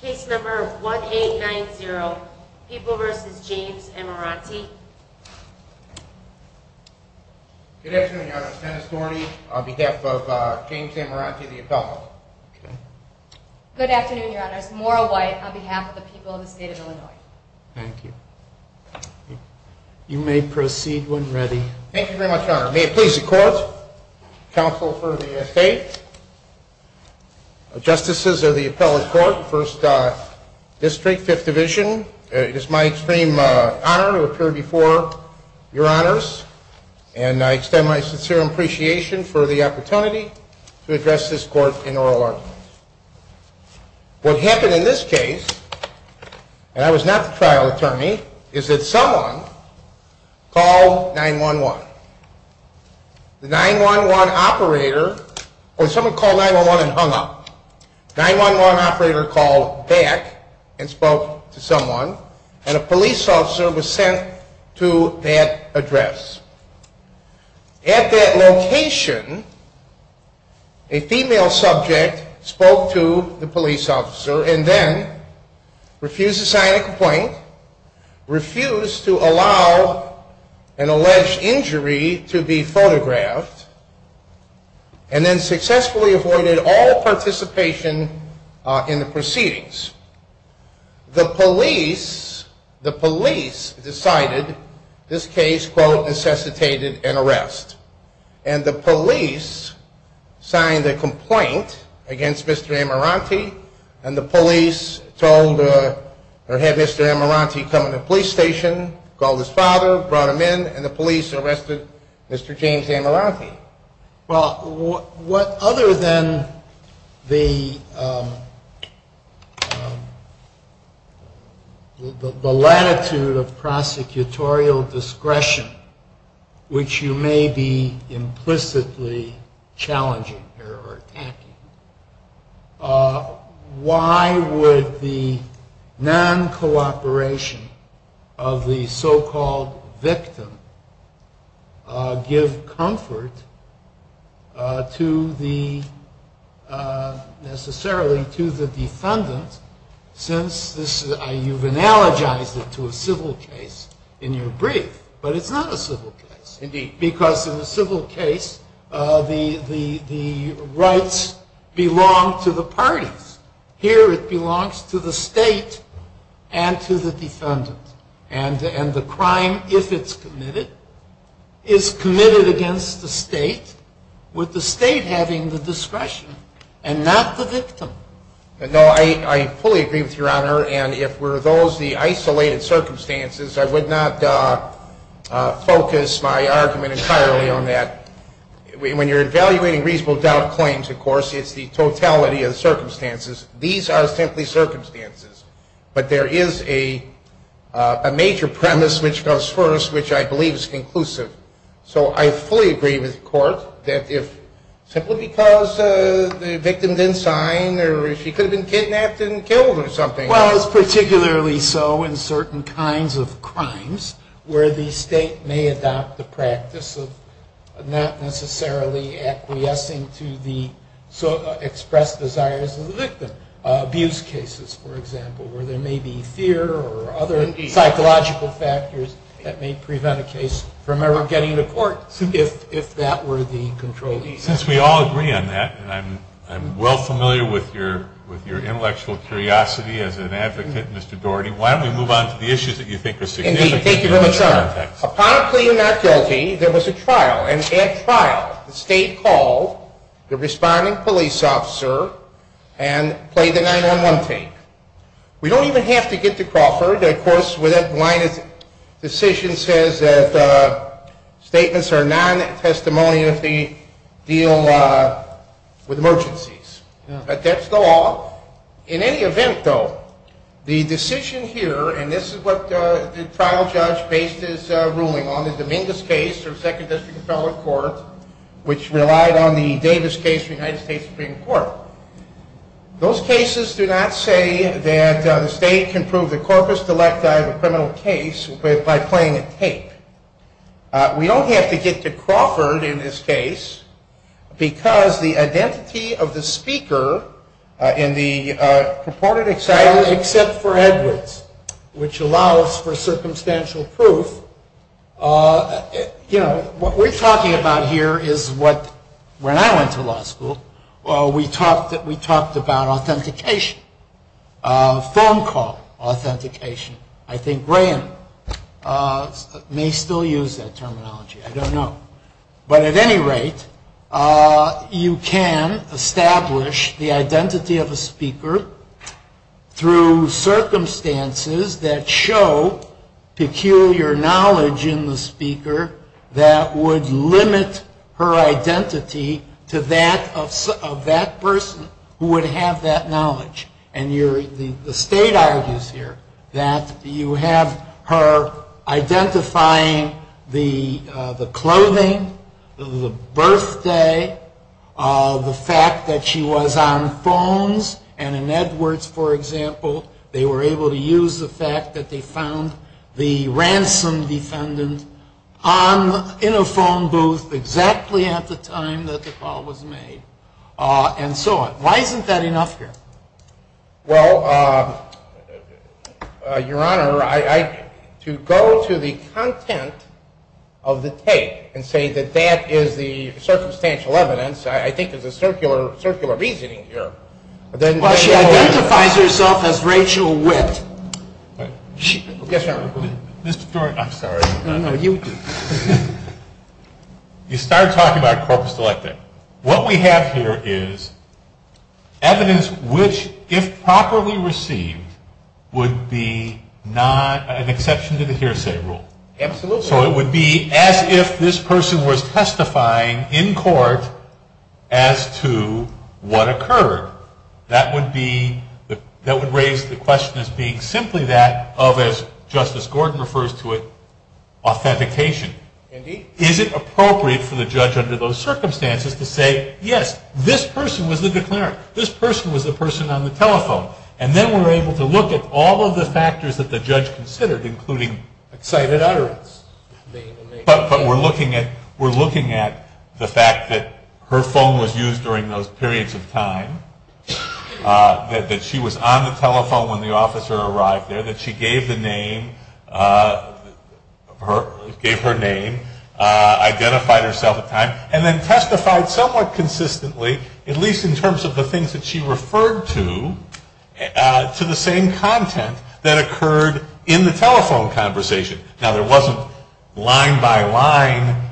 Case number 1890, People v. James Amirante. Good afternoon, Your Honors. Dennis Dorney on behalf of James Amirante, the appellant. Good afternoon, Your Honors. Maura White on behalf of the people of the State of Illinois. Thank you. You may proceed when ready. Thank you very much, Your Honor. May it please the Court, Counsel for the State, Justices of the Appellate Court, First District, Fifth Division, it is my extreme honor to appear before Your Honors, and I extend my sincere appreciation for the opportunity to address this Court in oral argument. What happened in this case, and I was not the trial attorney, is that someone called 911. The 911 operator, or someone called 911 and hung up. 911 operator called back and spoke to someone, and a police officer was sent to that address. At that location, a female subject spoke to the police officer and then refused to sign a complaint, refused to allow an alleged injury to be photographed, and then successfully avoided all participation in the proceedings. The police, the police decided this case, quote, necessitated an arrest. And the police signed a complaint against Mr. Amiranti, and the police told, or had Mr. Amiranti come to the police station, called his father, brought him in, and the police arrested Mr. James Amiranti. Well, what other than the latitude of prosecutorial discretion, which you may be implicitly challenging or attacking, why would the non-cooperation of the so-called victim give comfort to the, necessarily to the defendant, since this, you've analogized it to a civil case in your brief, but it's not a civil case. Indeed. Because in a civil case, the rights belong to the parties. Here it belongs to the state and to the defendant. And the crime, if it's committed, is committed against the state, with the state having the discretion and not the victim. No, I fully agree with Your Honor, and if those were the isolated circumstances, I would not focus my argument entirely on that. When you're evaluating reasonable doubt claims, of course, it's the totality of the circumstances. These are simply circumstances. But there is a major premise which comes first, which I believe is conclusive. So I fully agree with the court that if, simply because the victim didn't sign or she could have been kidnapped and killed or something. Well, it's particularly so in certain kinds of crimes where the state may adopt the practice of not necessarily acquiescing to the expressed desires of the victim. Abuse cases, for example, where there may be fear or other psychological factors that may prevent a case from ever getting to court, if that were the control. Since we all agree on that, and I'm well familiar with your intellectual curiosity as an advocate, Mr. Doherty, why don't we move on to the issues that you think are significant in this context. Upon a plea of not guilty, there was a trial, an at-trial. The state called the responding police officer and played the nine-on-one thing. We don't even have to get to Crawford. Of course, with that line, the decision says that statements are non-testimony if they deal with emergencies. But that's the law. In any event, though, the decision here, and this is what the trial judge based his ruling on, the Dominguez case of Second District Appellate Court, which relied on the Davis case of the United States Supreme Court. Those cases do not say that the state can prove the corpus delecti of a criminal case by playing a tape. We don't have to get to Crawford in this case because the identity of the speaker in the purported example, except for Edwards, which allows for circumstantial proof. You know, what we're talking about here is what, when I went to law school, we talked about authentication, phone call authentication. I think Graham may still use that terminology. I don't know. But at any rate, you can establish the identity of a speaker through circumstances that show peculiar knowledge in the speaker that would limit her identity to that person who would have that knowledge. And the state argues here that you have her identifying the clothing, the birthday, the fact that she was on phones. And in Edwards, for example, they were able to use the fact that they found the ransom defendant in a phone booth exactly at the time that the call was made and so on. Why isn't that enough here? Well, Your Honor, to go to the content of the tape and say that that is the circumstantial evidence I think is a circular reasoning here. But she identifies herself as Rachel Witt. Yes, Your Honor. Mr. Stewart, I'm sorry. No, no, you do. You started talking about corpus delicti. What we have here is evidence which, if properly received, would be not an exception to the hearsay rule. Absolutely. So it would be as if this person was testifying in court as to what occurred. That would raise the question as being simply that of, as Justice Gordon refers to it, authentication. Indeed. Is it appropriate for the judge under those circumstances to say, yes, this person was the declarant. This person was the person on the telephone. And then we're able to look at all of the factors that the judge considered, including cited utterance. But we're looking at the fact that her phone was used during those periods of time, that she was on the telephone when the officer arrived there, that she gave the name, gave her name, identified herself at the time, and then testified somewhat consistently, at least in terms of the things that she referred to, to the same content that occurred in the telephone conversation. Now, there wasn't line-by-line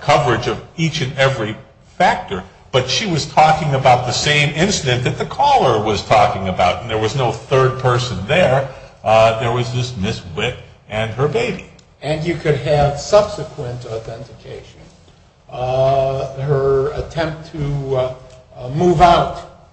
coverage of each and every factor, but she was talking about the same incident that the caller was talking about, and there was no third person there. There was just Ms. Witt and her baby. And you could have subsequent authentication. Her attempt to move out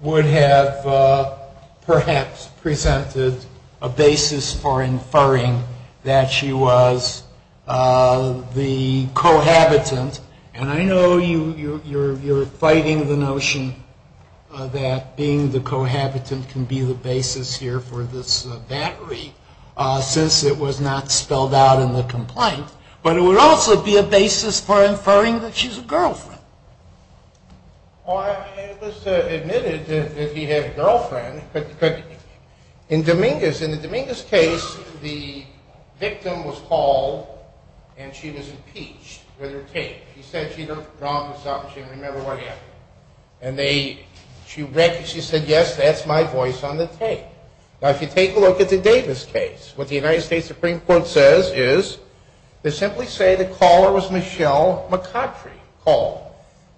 would have perhaps presented a basis for inferring that she was the cohabitant. And I know you're fighting the notion that being the cohabitant can be the basis here for this battery, since it was not spelled out in the complaint. But it would also be a basis for inferring that she's a girlfriend. Well, it was admitted that he had a girlfriend, but in Dominguez, in the Dominguez case, the victim was called, and she was impeached with her tape. She said she looked wrong, and she didn't remember what happened. And she said, yes, that's my voice on the tape. Now, if you take a look at the Davis case, what the United States Supreme Court says is they simply say the caller was Michelle McCautry, called.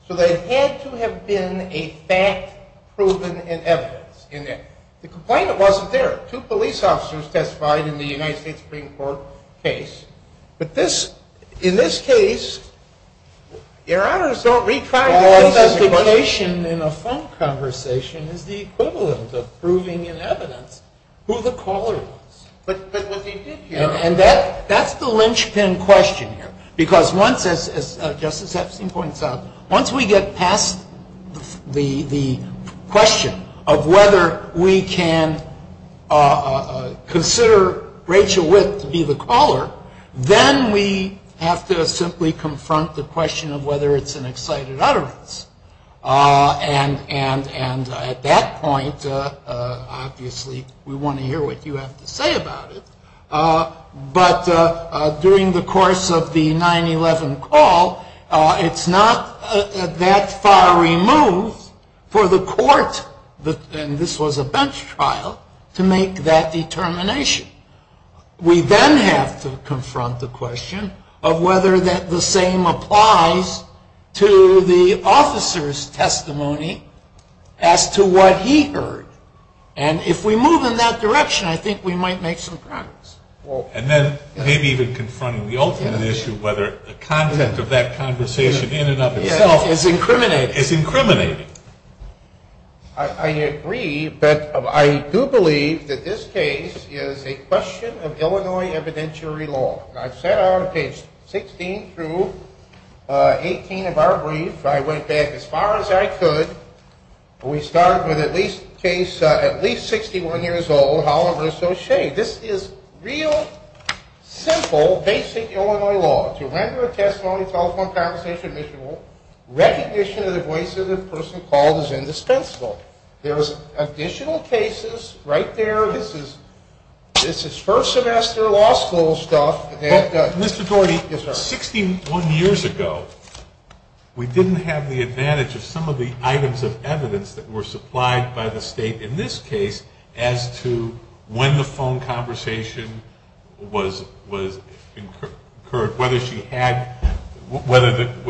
So there had to have been a fact proven in evidence. The complaint wasn't there. Two police officers testified in the United States Supreme Court case. But in this case, Your Honors, don't retry this. The justification in a phone conversation is the equivalent of proving in evidence who the caller was. But what they did here – And that's the linchpin question here. Because once, as Justice Epstein points out, once we get past the question of whether we can consider Rachel Witt to be the caller, then we have to simply confront the question of whether it's an excited utterance. And at that point, obviously, we want to hear what you have to say about it. But during the course of the 9-11 call, it's not that far removed for the court – and this was a bench trial – to make that determination. We then have to confront the question of whether the same applies to the officer's testimony as to what he heard. And if we move in that direction, I think we might make some progress. And then maybe even confronting the ultimate issue of whether the content of that conversation in and of itself is incriminating. I agree, but I do believe that this case is a question of Illinois evidentiary law. I've sat on page 16 through 18 of our brief. I went back as far as I could. We start with a case at least 61 years old, Holliver v. O'Shea. This is real, simple, basic Illinois law. To render a testimony, telephone conversation, missionable, recognition of the voice of the person called is indispensable. There's additional cases right there. This is first-semester law school stuff. But, Mr. Gordy, 61 years ago, we didn't have the advantage of some of the items of evidence that were supplied by the state in this case as to when the phone conversation was incurred, whether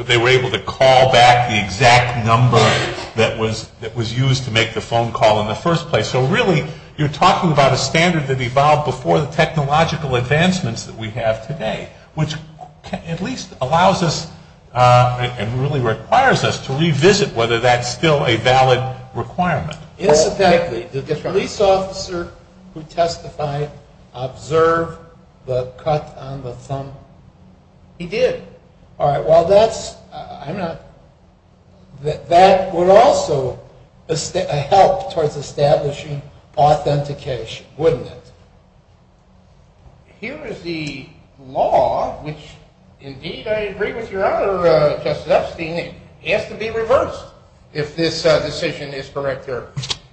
they were able to call back the exact number that was used to make the phone call in the first place. So, really, you're talking about a standard that evolved before the technological advancements that we have today, which at least allows us and really requires us to revisit whether that's still a valid requirement. Incidentally, did the police officer who testified observe the cut on the thumb? He did. All right, well, that's, I'm not, that would also help towards establishing authentication, wouldn't it? Here is the law, which, indeed, I agree with your other, Justice Epstein, it has to be reversed if this decision is correct.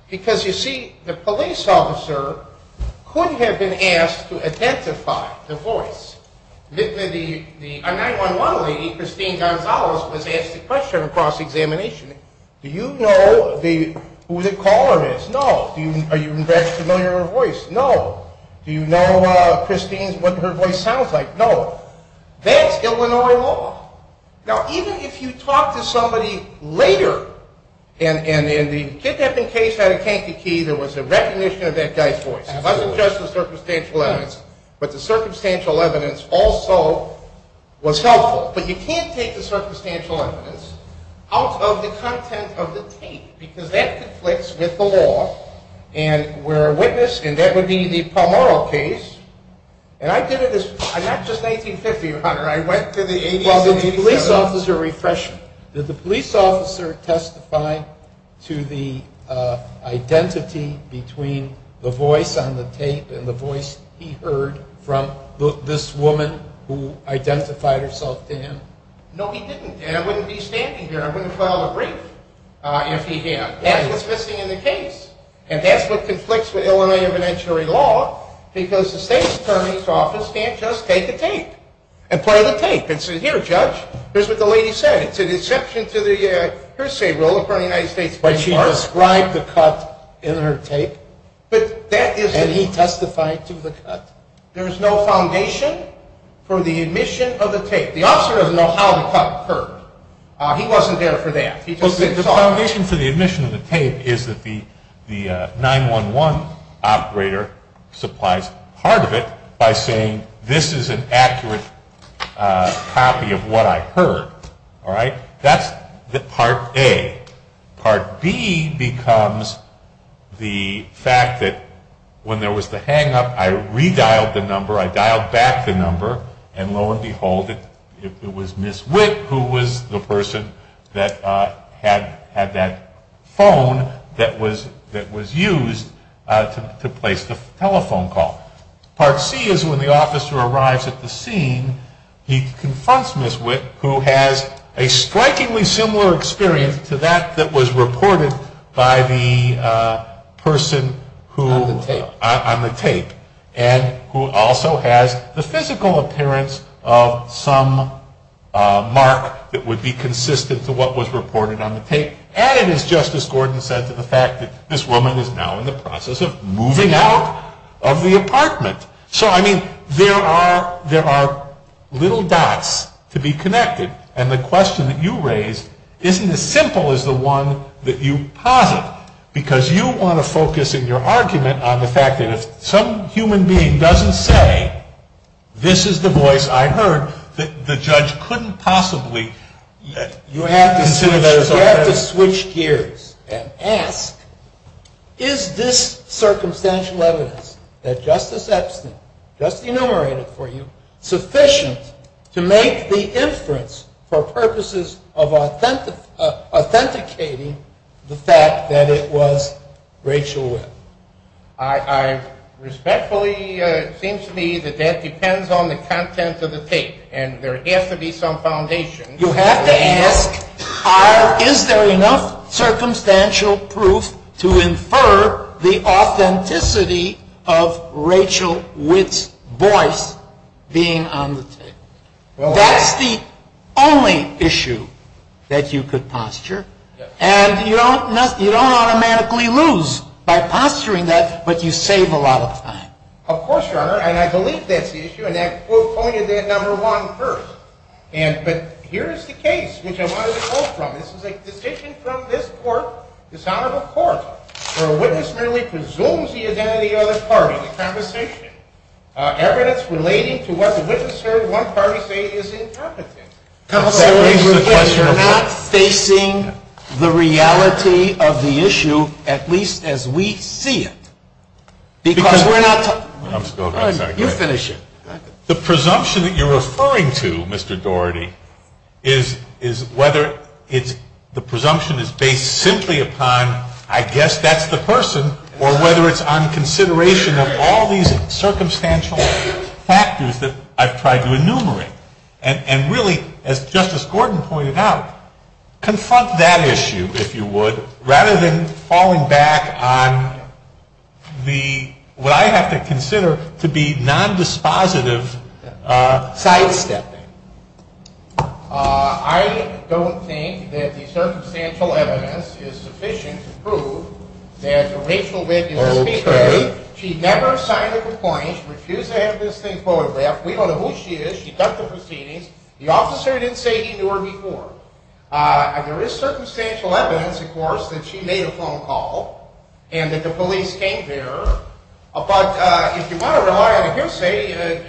Because, you see, the police officer could have been asked to identify the voice. The 9-1-1 lady, Christine Gonzalez, was asked a question across examination. Do you know who the caller is? No. Are you familiar with her voice? No. Do you know, Christine, what her voice sounds like? No. That's Illinois law. Now, even if you talk to somebody later, and the kidnapping case had a kinky key, there was a recognition of that guy's voice. It wasn't just the circumstantial evidence. But the circumstantial evidence also was helpful. But you can't take the circumstantial evidence out of the content of the tape, because that conflicts with the law. And we're a witness, and that would be the Palmaro case. And I did it not just in 1950, Hunter. I went to the 80s and 87s. Well, did the police officer refresh you? Did the police officer testify to the identity between the voice on the tape and the voice he heard from this woman who identified herself to him? No, he didn't. And I wouldn't be standing here. I wouldn't file a brief if he had. That's what's missing in the case. And that's what conflicts with Illinois evidentiary law, because the state attorney's office can't just take a tape and play the tape and say, Here, Judge, here's what the lady said. It's an exception to the hearsay rule according to the United States Supreme Court. But she described the cut in her tape, and he testified to the cut. There is no foundation for the admission of the tape. The officer doesn't know how the cut occurred. He wasn't there for that. The foundation for the admission of the tape is that the 911 operator supplies part of it by saying, This is an accurate copy of what I heard. All right? That's part A. Part B becomes the fact that when there was the hang-up, I redialed the number. I dialed back the number. And lo and behold, it was Ms. Witt who was the person that had that phone that was used to place the telephone call. Part C is when the officer arrives at the scene, he confronts Ms. Witt, who has a strikingly similar experience to that that was reported by the person on the tape and who also has the physical appearance of some mark that would be consistent to what was reported on the tape. And it is just as Gordon said to the fact that this woman is now in the process of moving out of the apartment. So, I mean, there are little dots to be connected. And the question that you raised isn't as simple as the one that you posit, because you want to focus in your argument on the fact that if some human being doesn't say, this is the voice I heard, the judge couldn't possibly consider that as a threat. You have to switch gears and ask, is this circumstantial evidence that Justice Epstein just enumerated for you sufficient to make the inference for purposes of authenticating the fact that it was Rachel Witt? I respectfully, it seems to me that that depends on the content of the tape. And there has to be some foundation. You have to ask, is there enough circumstantial proof to infer the authenticity of Rachel Witt's voice being on the tape? That's the only issue that you could posture. And you don't automatically lose by posturing that, but you save a lot of time. Of course, Your Honor. And I believe that's the issue. And I quoted that number one first. But here is the case which I wanted to quote from. This is a decision from this Court, this Honorable Court, where a witness merely presumes the identity of the other party, the conversation. Evidence relating to what the witness heard one party say is incompetent. Counsel, you're not facing the reality of the issue, at least as we see it. Because we're not talking. You finish it. The presumption that you're referring to, Mr. Doherty, is whether the presumption is based simply upon, I guess that's the person, or whether it's on consideration of all these circumstantial factors that I've tried to enumerate. And really, as Justice Gordon pointed out, confront that issue, if you would, rather than falling back on what I have to consider to be nondispositive sidestepping. I don't think that the circumstantial evidence is sufficient to prove that Rachel Witt is the speaker. She never signed a complaint. She refused to have this thing photographed. We don't know who she is. She cut the proceedings. The officer didn't say he knew her before. There is circumstantial evidence, of course, that she made a phone call and that the police came to her. But if you want to rely on hearsay,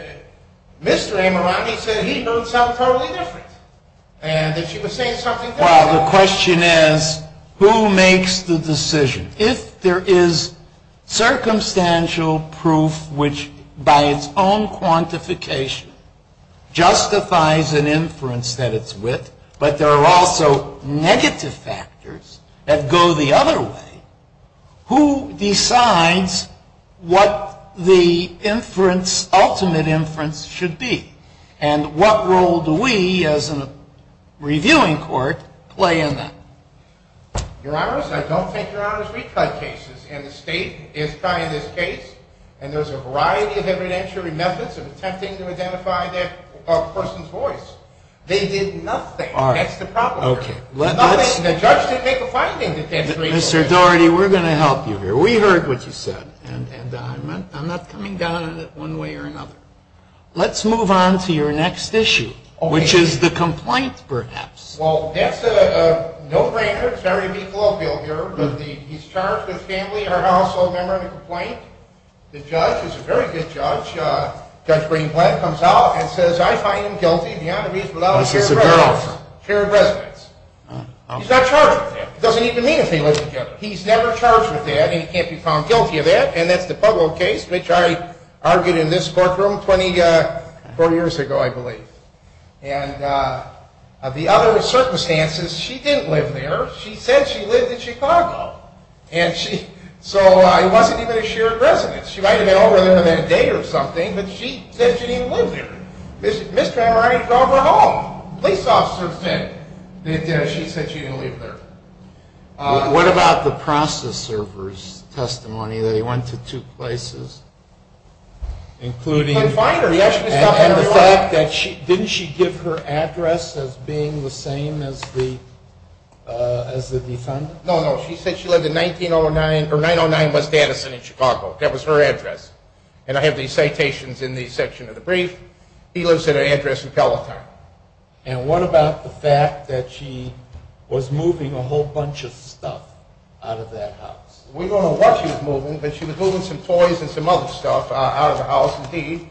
Mr. Amorami said he knows something totally different, and that she was saying something different. Well, the question is, who makes the decision? If there is circumstantial proof which, by its own quantification, justifies an inference that it's Witt, but there are also negative factors that go the other way, who decides what the inference, ultimate inference, should be? And what role do we, as a reviewing court, play in that? Your Honors, I don't think Your Honors retried cases, and the State is trying this case, and there's a variety of evidentiary methods of attempting to identify a person's voice. They did nothing. All right. That's the problem. Okay. Nothing. The judge didn't make a finding that that's reasonable. Mr. Daugherty, we're going to help you here. We heard what you said, and I'm not coming down on it one way or another. Let's move on to your next issue, which is the complaint, perhaps. Well, that's a no-brainer. It's very eclogical here. He's charged with family or household member in a complaint. The judge is a very good judge. Judge Greenblatt comes out and says, Oh, so it's a girl. Shared residence. He's not charged with that. It doesn't even mean if they live together. He's never charged with that, and he can't be found guilty of that, and that's the Pueblo case, which I argued in this courtroom 24 years ago, I believe. And the other circumstances, she didn't live there. She said she lived in Chicago. And so it wasn't even a shared residence. She might have been over there that day or something, but she said she didn't even live there. Mr. Hammer, I need to go over to her home. The police officer is in. She said she didn't live there. What about the process server's testimony that he went to two places, including? He couldn't find her. He actually stopped at her home. And the fact that she – didn't she give her address as being the same as the defendant? No, no. She said she lived in 1909 – or 909 West Addison in Chicago. That was her address. And I have these citations in the section of the brief. He lives at her address in Peloton. And what about the fact that she was moving a whole bunch of stuff out of that house? We don't know what she was moving, but she was moving some toys and some other stuff out of the house, indeed.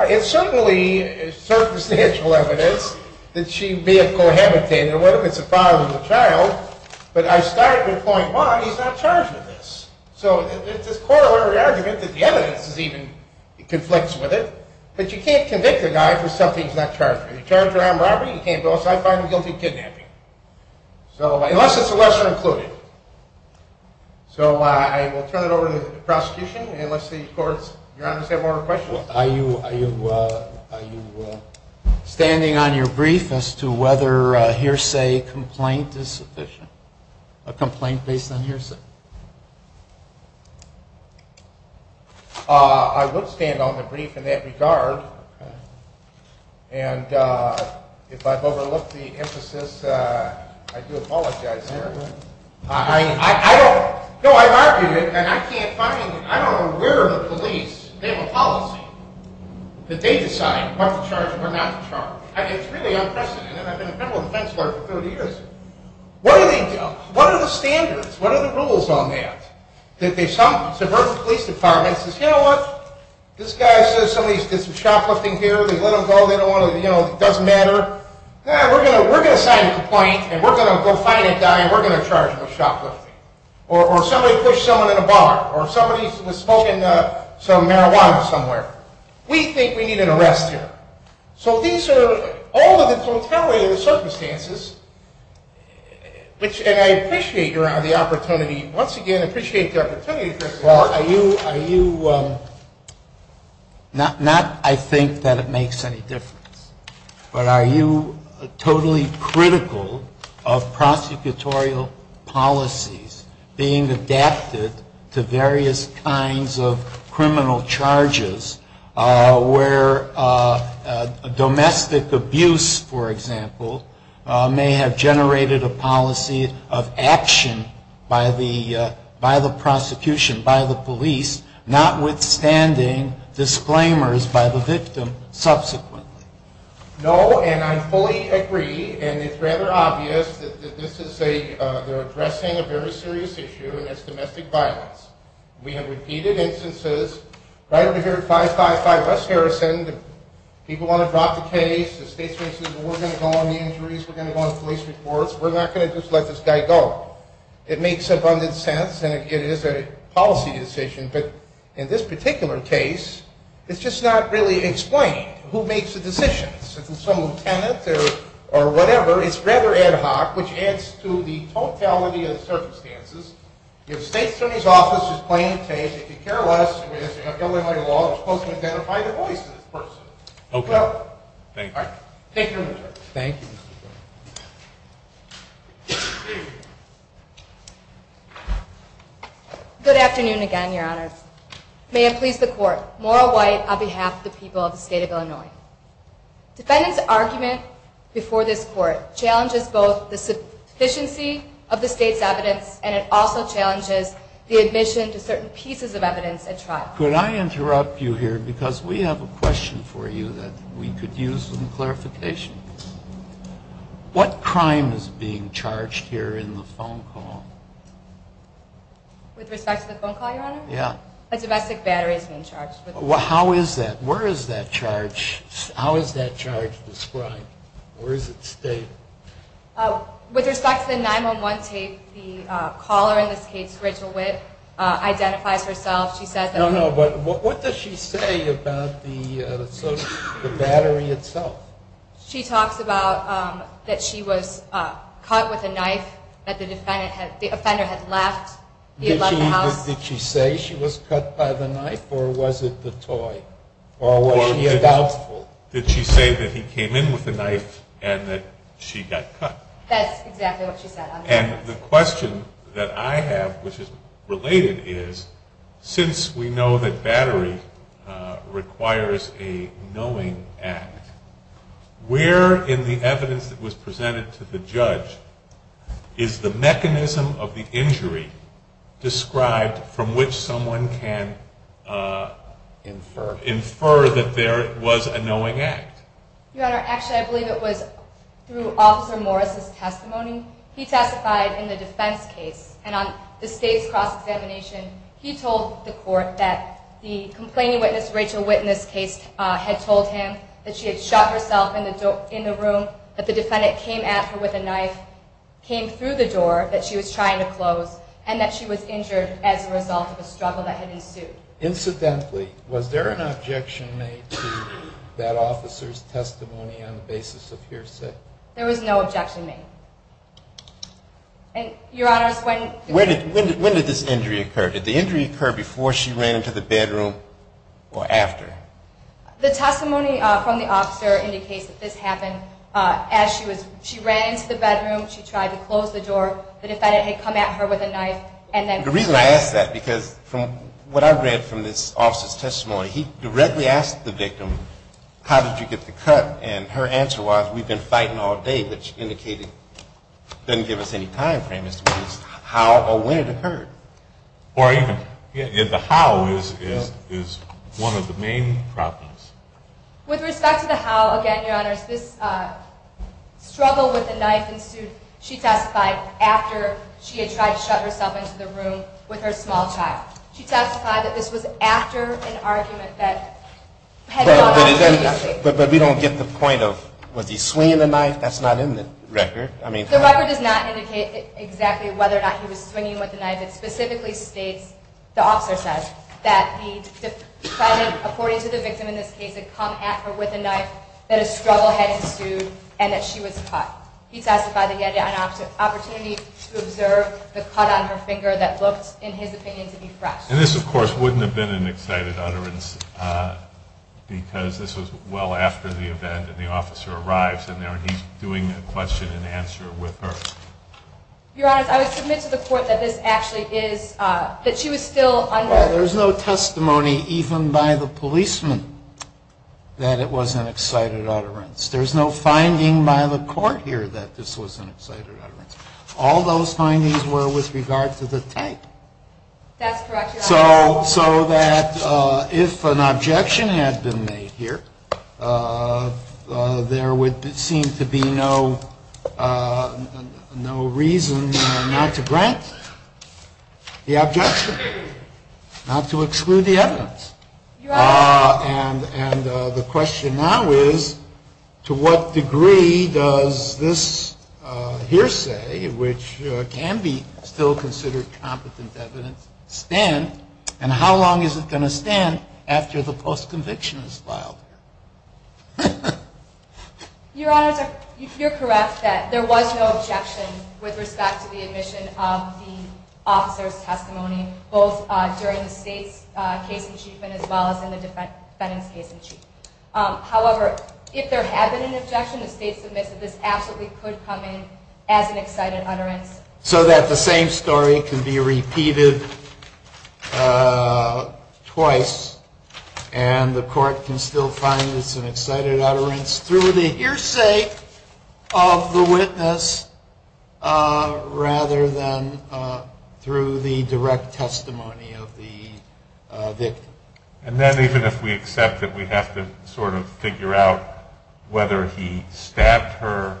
It's certainly circumstantial evidence that she may have cohabitated. What if it's a five-year-old child? But I start with point one, he's not charged with this. So it's a corollary argument that the evidence even conflicts with it. But you can't convict a guy for something he's not charged with. You charge him for armed robbery, you can't go outside and find him guilty of kidnapping. Unless it's a lesser included. So I will turn it over to the prosecution. Unless the courts, Your Honors, have more questions. Are you standing on your brief as to whether hearsay complaint is sufficient? A complaint based on hearsay. I would stand on the brief in that regard. And if I've overlooked the emphasis, I do apologize here. I don't know where the police have a policy that they decide what to charge and what not to charge. It's really unprecedented. I've been a federal defense lawyer for 30 years. What do they do? What are the standards? What are the rules on that? Suburban police department says, you know what? This guy says somebody did some shoplifting here. They let him go. They don't want to, you know, it doesn't matter. We're going to sign a complaint and we're going to go find a guy and we're going to charge him with shoplifting. Or somebody pushed someone in a bar. Or somebody was smoking some marijuana somewhere. We think we need an arrest here. So these are all of the totality of the circumstances, and I appreciate the opportunity. Once again, I appreciate the opportunity. Are you not, I think, that it makes any difference. But are you totally critical of prosecutorial policies being adapted to various kinds of criminal charges where domestic abuse, for example, may have generated a policy of action by the prosecution, by the police, notwithstanding disclaimers by the victim subsequently? No, and I fully agree. And it's rather obvious that this is addressing a very serious issue, and that's domestic violence. We have repeated instances right over here at 555 West Harrison. People want to drop the case. The state says, well, we're going to go on the injuries. We're going to go on police reports. We're not going to just let this guy go. It makes abundant sense, and it is a policy decision. But in this particular case, it's just not really explained who makes the decisions. If it's a lieutenant or whatever, it's rather ad hoc, which adds to the totality of the circumstances. The state's attorney's office is playing the case. If you care less, I mean, it's a federally held law. You're supposed to identify the voice of this person. Okay. Thank you. All right. Thank you, Mr. Chairman. Thank you, Mr. Chairman. Good afternoon again, Your Honors. Defendant's argument before this court challenges both the sufficiency of the state's evidence, and it also challenges the admission to certain pieces of evidence at trial. Could I interrupt you here? Because we have a question for you that we could use some clarification. What crime is being charged here in the phone call? With respect to the phone call, Your Honor? Yeah. A domestic battery is being charged. How is that? Where is that charge? How is that charge described? Where is it stated? With respect to the 911 tape, the caller in this case, Rachel Witt, identifies herself. No, no, but what does she say about the battery itself? She talks about that she was cut with a knife, that the offender had left the house. Did she say she was cut by the knife, or was it the toy? Or was she a doubtful? Did she say that he came in with a knife and that she got cut? That's exactly what she said. And the question that I have, which is related, is since we know that battery requires a knowing act, where in the evidence that was presented to the judge is the mechanism of the injury described from which someone can infer that there was a knowing act? Your Honor, actually I believe it was through Officer Morris' testimony. He testified in the defense case, and on the state's cross-examination, he told the court that the complaining witness, Rachel Witt, in this case, had told him that she had shot herself in the room, that the defendant came at her with a knife, came through the door that she was trying to close, and that she was injured as a result of a struggle that had ensued. Incidentally, was there an objection made to that officer's testimony on the basis of hearsay? There was no objection made. Your Honor, when did this injury occur? Did the injury occur before she ran into the bedroom, or after? The testimony from the officer indicates that this happened as she ran into the bedroom, she tried to close the door, the defendant had come at her with a knife, and then... The reason I ask that, because from what I read from this officer's testimony, he directly asked the victim, how did you get the cut? And her answer was, we've been fighting all day, which indicated, didn't give us any time frame as to whether it was how or when it occurred. Or even, the how is one of the main problems. With respect to the how, again, Your Honor, this struggle with the knife ensued, she testified after she had tried to shut herself into the room with her small child. She testified that this was after an argument that... But we don't get the point of, was he swinging the knife? That's not in the record. The record does not indicate exactly whether or not he was swinging with the knife. It specifically states, the officer says, that the defendant, according to the victim in this case, had come at her with a knife, that a struggle had ensued, and that she was cut. He testified that he had an opportunity to observe the cut on her finger that looked, in his opinion, to be fresh. And this, of course, wouldn't have been an excited utterance, because this was well after the event, and the officer arrives in there, and he's doing a question and answer with her. Your Honor, I would submit to the court that this actually is, that she was still under... Well, there's no testimony, even by the policeman, that it was an excited utterance. There's no finding by the court here that this was an excited utterance. All those findings were with regard to the tape. That's correct, Your Honor. So that if an objection had been made here, there would seem to be no reason not to grant the objection, not to exclude the evidence. And the question now is, to what degree does this hearsay, which can be still considered competent evidence, stand? And how long is it going to stand after the post-conviction is filed? Your Honor, you're correct that there was no objection with respect to the admission of the officer's testimony, both during the State's case in chief and as well as in the defendant's case in chief. However, if there had been an objection, the State submits that this absolutely could come in as an excited utterance. So that the same story can be repeated twice and the court can still find it's an excited utterance through the hearsay of the witness rather than through the direct testimony of the victim. And then even if we accept it, we have to sort of figure out whether he stabbed her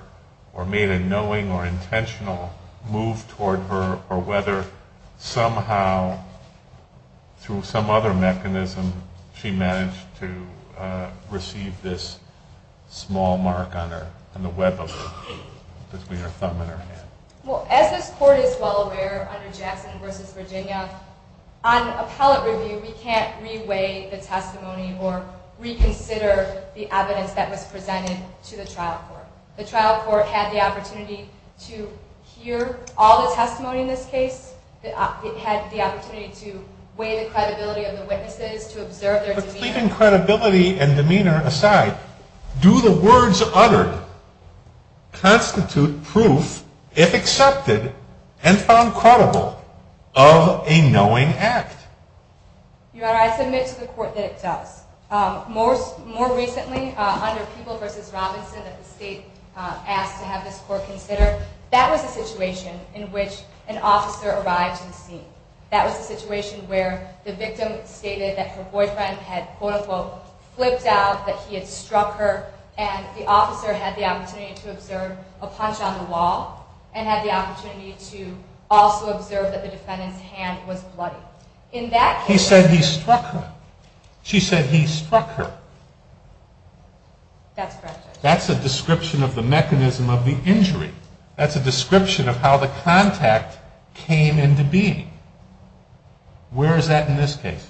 or made a knowing or intentional move toward her, or whether somehow through some other mechanism she managed to receive this small mark on her, on the web of her, between her thumb and her hand. Well, as this Court is well aware under Jackson v. Virginia, on appellate review, we can't re-weigh the testimony or reconsider the evidence that was presented to the trial court. The trial court had the opportunity to hear all the testimony in this case. It had the opportunity to weigh the credibility of the witnesses, to observe their demeanor. But leaving credibility and demeanor aside, do the words uttered constitute proof, if accepted and found credible, of a knowing act? Your Honor, I submit to the Court that it does. More recently, under People v. Robinson that the State asked to have this Court consider, that was a situation in which an officer arrived to the scene. That was a situation where the victim stated that her boyfriend had, quote unquote, flipped out, that he had struck her, and the officer had the opportunity to observe a punch on the wall, and had the opportunity to also observe that the defendant's hand was bloody. He said he struck her. She said he struck her. That's correct, Your Honor. That's a description of the mechanism of the injury. That's a description of how the contact came into being. Where is that in this case?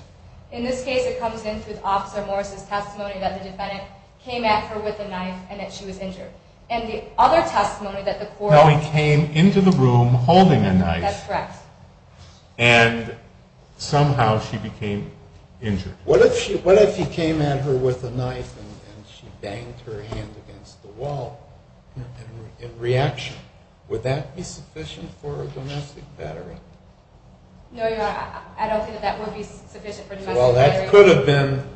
In this case, it comes in through Officer Morris' testimony that the defendant came at her with a knife and that she was injured. And the other testimony that the Court... No, he came into the room holding a knife. That's correct. And somehow she became injured. What if he came at her with a knife and she banged her hand against the wall in reaction? Would that be sufficient for a domestic veteran? No, Your Honor, I don't think that that would be sufficient for a domestic veteran. Well, that could have been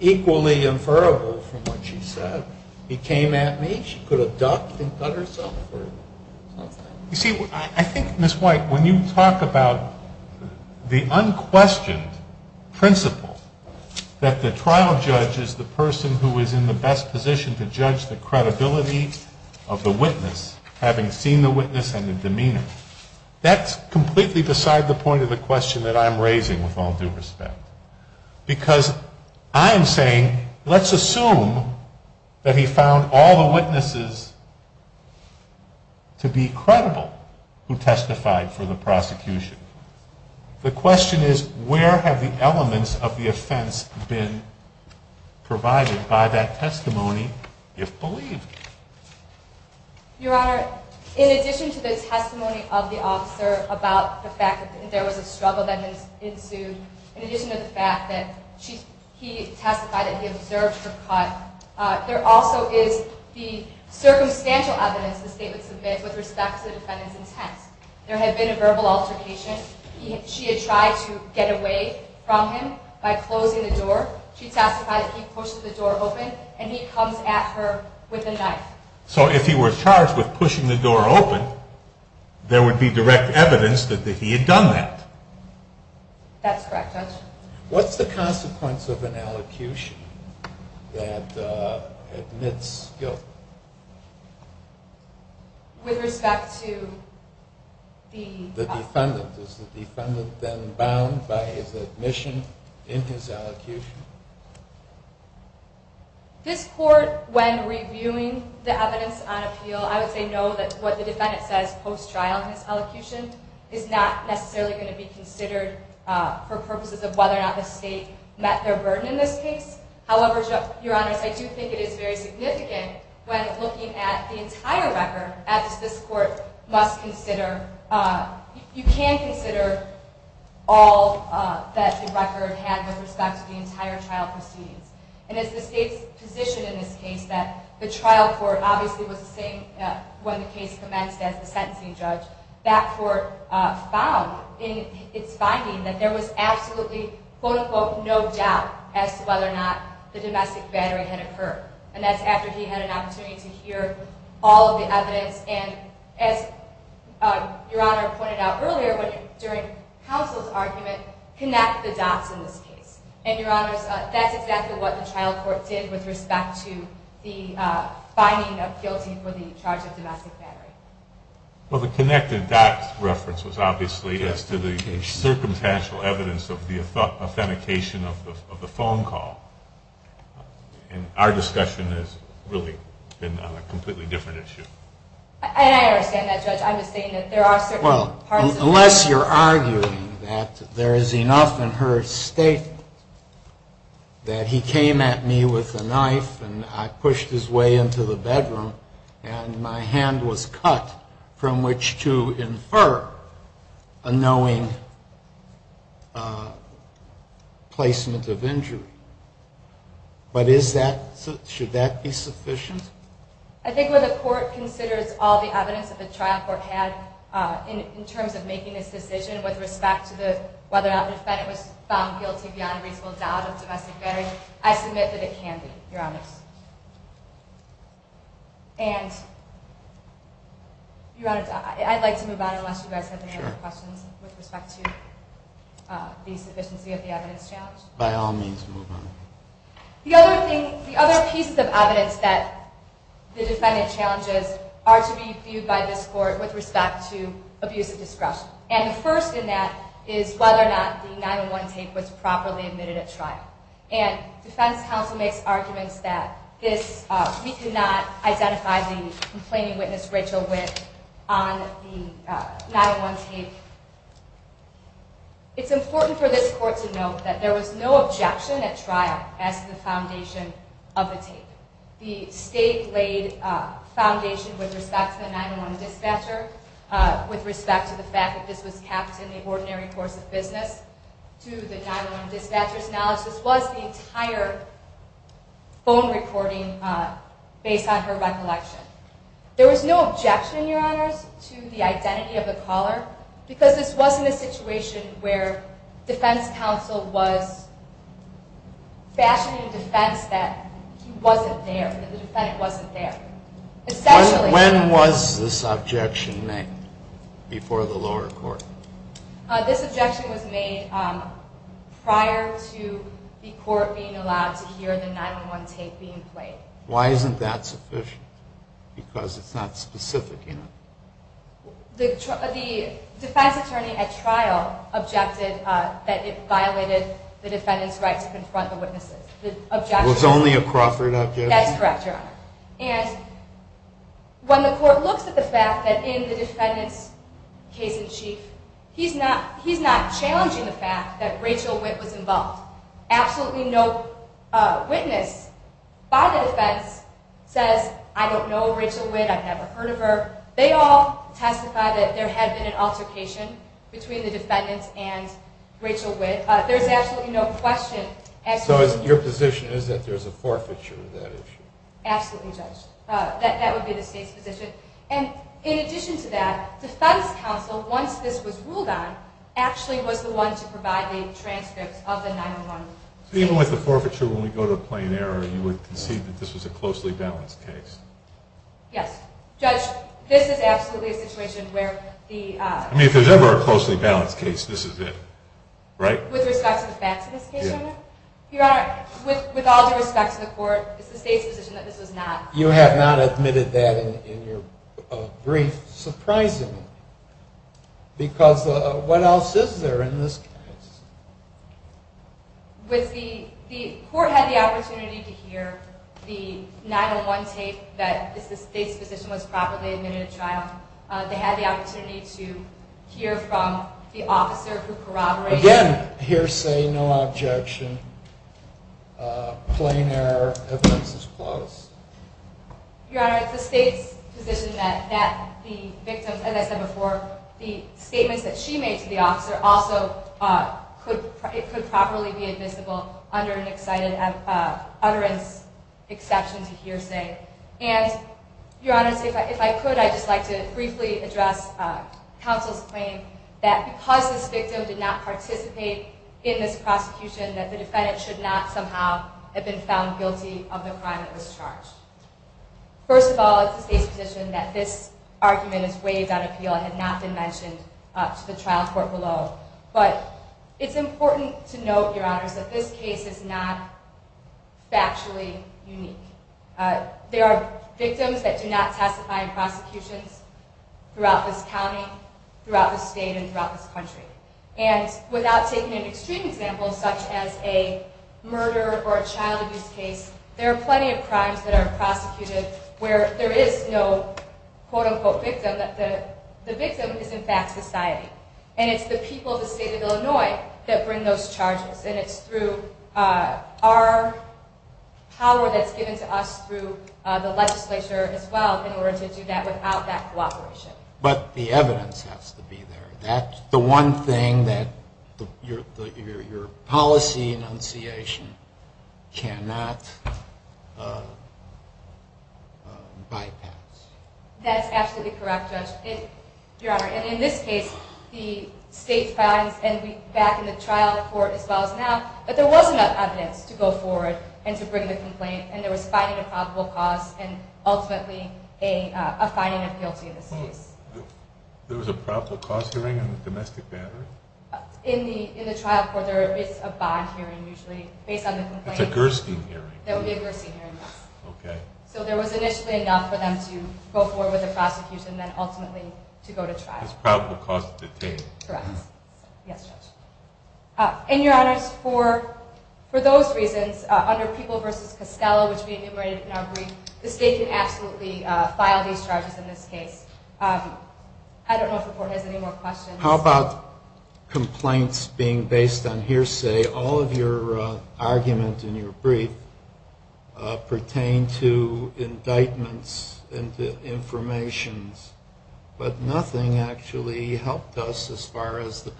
equally inferable from what she said. He came at me. She could have ducked and cut herself. You see, I think, Ms. White, when you talk about the unquestioned principle that the trial judge is the person who is in the best position to judge the credibility of the witness, having seen the witness and the demeanor, that's completely beside the point of the question that I'm raising with all due respect. Because I am saying, let's assume that he found all the witnesses to be credible who testified for the prosecution. The question is, where have the elements of the offense been provided by that testimony, if believed? Your Honor, in addition to the testimony of the officer about the fact that there was a struggle that ensued, in addition to the fact that he testified that he observed her cut, there also is the circumstantial evidence the State would submit with respect to the defendant's intent. There had been a verbal altercation. She had tried to get away from him by closing the door. She testified that he pushed the door open, and he comes at her with a knife. So if he were charged with pushing the door open, there would be direct evidence that he had done that. That's correct, Judge. What's the consequence of an allocution that admits guilt? With respect to the... The defendant. Is the defendant then bound by his admission in his allocution? This Court, when reviewing the evidence on appeal, I would say no, that what the defendant says post-trial in his allocution is not necessarily going to be considered for purposes of whether or not the State met their burden in this case. However, Your Honor, I do think it is very significant when looking at the entire record, as this Court must consider... You can consider all that the record had with respect to the entire trial proceedings. And as the State's position in this case that the trial court obviously was the same when the case commenced as the sentencing judge, that court found in its finding that there was absolutely, quote-unquote, no doubt as to whether or not the domestic battery had occurred. And that's after he had an opportunity to hear all of the evidence. And as Your Honor pointed out earlier, during counsel's argument, connect the dots in this case. And Your Honor, that's exactly what the trial court did with respect to the finding of guilty for the charge of domestic battery. Well, the connect-the-dots reference was obviously as to the circumstantial evidence of the authentication of the phone call. And our discussion has really been on a completely different issue. And I understand that, Judge. I'm just saying that there are certain parts of... Well, unless you're arguing that there is enough in her statement that he came at me with a knife and I pushed his way into the bedroom and my hand was cut from which to infer a knowing placement of injury. But should that be sufficient? I think when the court considers all the evidence that the trial court had in terms of making this decision with respect to whether or not the defendant was found guilty beyond a reasonable doubt of domestic battery, I submit that it can be, Your Honor. And, Your Honor, I'd like to move on unless you guys have any other questions with respect to the sufficiency of the evidence challenge. By all means, move on. The other pieces of evidence that the defendant challenges are to be viewed by this court with respect to abuse of discretion. And the first in that is whether or not the 9-1-1 tape was properly admitted at trial. And defense counsel makes arguments that we could not identify the complaining witness, Rachel Witt, on the 9-1-1 tape. It's important for this court to note that there was no objection at trial as to the foundation of the tape. The state laid foundation with respect to the 9-1-1 dispatcher, with respect to the fact that this was kept in the ordinary course of business, to the 9-1-1 dispatcher's knowledge. This was the entire phone recording based on her recollection. There was no objection, Your Honors, to the identity of the caller because this wasn't a situation where defense counsel was fashioning defense that he wasn't there, that the defendant wasn't there. When was this objection made before the lower court? This objection was made prior to the court being allowed to hear the 9-1-1 tape being played. Why isn't that sufficient? Because it's not specific, you know. The defense attorney at trial objected that it violated the defendant's right to confront the witnesses. It was only a Crawford objection? That's correct, Your Honor. And when the court looks at the fact that in the defendant's case in chief, he's not challenging the fact that Rachel Witt was involved. Absolutely no witness by the defense says, I don't know Rachel Witt, I've never heard of her. They all testify that there had been an altercation between the defendants and Rachel Witt. There's absolutely no question. So your position is that there's a forfeiture of that issue? Absolutely, Judge. That would be the state's position. And in addition to that, defense counsel, once this was ruled on, actually was the one to provide the transcripts of the 9-1-1 tape. So even with the forfeiture, when we go to a plain error, you would concede that this was a closely balanced case? Yes. Judge, this is absolutely a situation where the... I mean, if there's ever a closely balanced case, this is it, right? With respect to the facts of this case, Your Honor? Your Honor, with all due respect to the court, it's the state's position that this was not. You have not admitted that in your brief, surprisingly. Because what else is there in this case? The court had the opportunity to hear the 9-1-1 tape, that the state's position was properly admitted at trial. They had the opportunity to hear from the officer who corroborated. Again, hearsay, no objection. Plain error. Evidence is closed. Your Honor, it's the state's position that the victim, as I said before, the statements that she made to the officer also could properly be admissible under an excited utterance exception to hearsay. And, Your Honor, if I could, I'd just like to briefly address counsel's claim that because this victim did not participate in this prosecution, that the defendant should not somehow have been found guilty of the crime that was charged. First of all, it's the state's position that this argument is waived on appeal and had not been mentioned to the trial court below. But it's important to note, Your Honor, that this case is not factually unique. There are victims that do not testify in prosecutions throughout this county, throughout this state, and throughout this country. And without taking an extreme example such as a murder or a child abuse case, there are plenty of crimes that are prosecuted where there is no quote-unquote victim, that the victim is in fact society. And it's the people of the state of Illinois that bring those charges. And it's through our power that's given to us through the legislature as well in order to do that without that cooperation. But the evidence has to be there. That's the one thing that your policy enunciation cannot bypass. That's absolutely correct, Judge. Your Honor, in this case, the state finds, and back in the trial court as well as now, that there was enough evidence to go forward and to bring the complaint, and there was finding a probable cause and ultimately a finding of guilty in this case. There was a probable cause hearing on a domestic battery? In the trial court, there is a bond hearing usually based on the complaint. It's a Gerstein hearing. That would be a Gerstein hearing, yes. Okay. So there was initially enough for them to go forward with the prosecution and then ultimately to go to trial. It's probable cause to detain. Correct. Yes, Judge. And, Your Honor, for those reasons, under People v. Costello, which we enumerated in our brief, the state can absolutely file these charges in this case. I don't know if the Court has any more questions. How about complaints being based on hearsay? All of your argument in your brief pertained to indictments and to information, but nothing actually helped us as far as the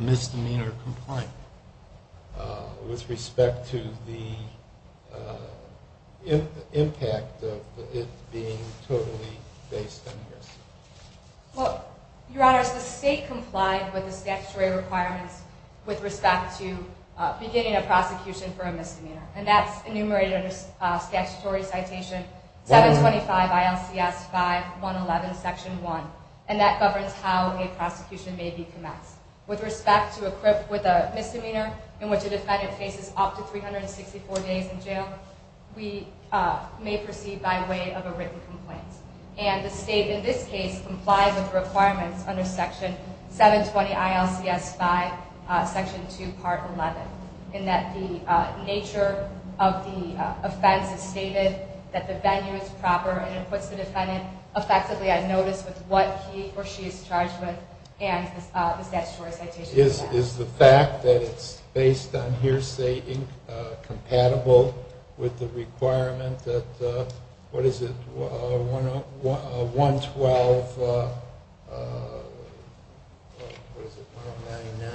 misdemeanor complaint with respect to the impact of it being totally based on hearsay. Well, Your Honor, the state complied with the statutory requirements with respect to beginning a prosecution for a misdemeanor, and that's enumerated under statutory citation 725 ILCS 5111, Section 1, and that governs how a prosecution may be commenced. With respect to a misdemeanor in which a defendant faces up to 364 days in jail, we may proceed by way of a written complaint, and the state in this case complies with the requirements under Section 720 ILCS 5, Section 2, Part 11, in that the nature of the offense is stated, that the venue is proper, and it puts the defendant effectively at notice with what he or she is charged with and the statutory citation. Is the fact that it's based on hearsay incompatible with the requirement that, what is it, 112, what is it, 199,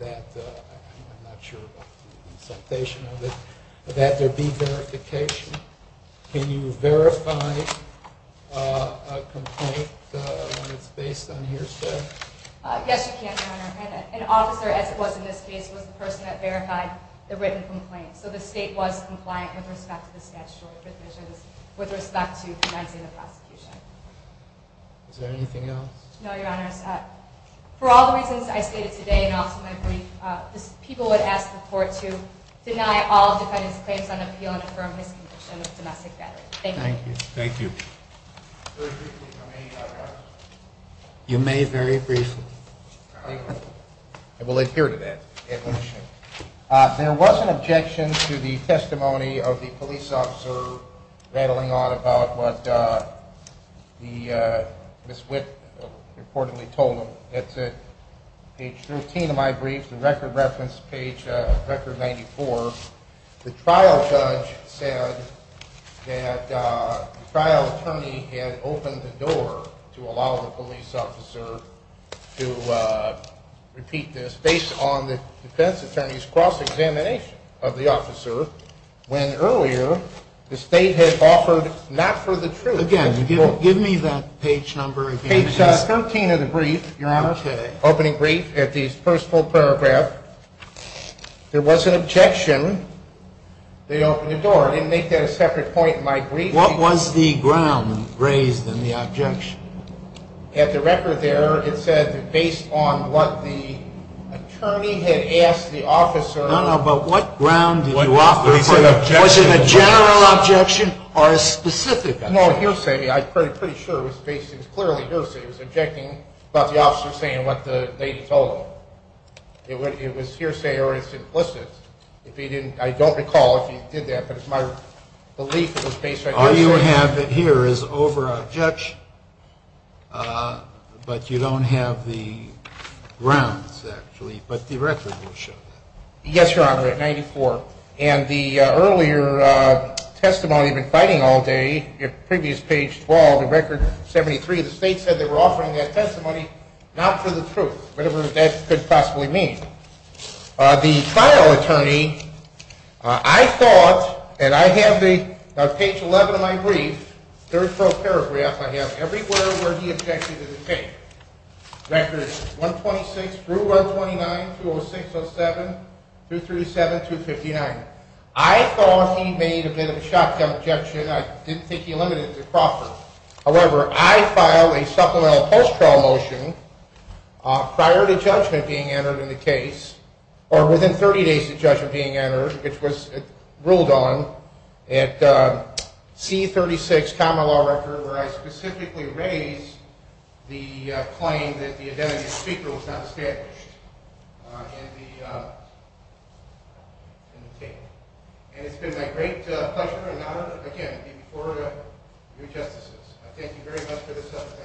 that, I'm not sure about the citation of it, that there be verification? Can you verify a complaint when it's based on hearsay? Yes, you can, Your Honor. An officer, as it was in this case, was the person that verified the written complaint, so the state was compliant with respect to the statutory provisions with respect to commencing the prosecution. Is there anything else? No, Your Honors. For all the reasons I stated today and also my brief, people would ask the court to deny all defendants' claims on appeal and affirm his conviction of domestic battery. Thank you. Thank you. Very briefly for me, Your Honor. You may very briefly. I will adhere to that admission. There was an objection to the testimony of the police officer rattling on about what Ms. Witt reportedly told him. It's at page 13 of my brief, the record reference, page record 94. The trial judge said that the trial attorney had opened the door to allow the police officer to repeat this based on the defense attorney's cross-examination of the officer when earlier the state had offered not for the truth. Again, give me that page number again. Page 13 of the brief, Your Honor, opening brief, at the first full paragraph, there was an objection. They opened the door. I didn't make that a separate point in my brief. What was the ground raised in the objection? At the record there, it said that based on what the attorney had asked the officer. No, no, but what ground did you offer? Was it a general objection or a specific objection? It was more of a hearsay. I'm pretty sure it was clearly hearsay. It was objecting about the officer saying what the lady told him. It was hearsay or it's implicit. I don't recall if he did that, but it's my belief it was based on hearsay. All you have here is over a judge, but you don't have the grounds, actually, but the record will show that. Yes, Your Honor, at 94. And the earlier testimony, you've been fighting all day. Previous page 12, record 73. The state said they were offering that testimony not for the truth, whatever that could possibly mean. The trial attorney, I thought, and I have the page 11 of my brief, third full paragraph, I have everywhere where he objected to the case. Record 126 through 129, 206, 207, 237, 259. I thought he made a bit of a shotgun objection. I didn't think he limited it to Crawford. However, I filed a supplemental post-trial motion prior to judgment being entered in the case or within 30 days of judgment being entered, which was ruled on, at C-36, common law record, where I specifically raised the claim that the identity of the speaker was not established in the case. And it's been my great pleasure and honor, again, to be before you justices. I thank you very much for this opportunity.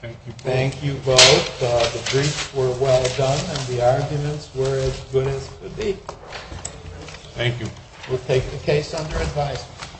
Thank you both. Thank you both. The briefs were well done, and the arguments were as good as could be. Thank you. We'll take the case under advice.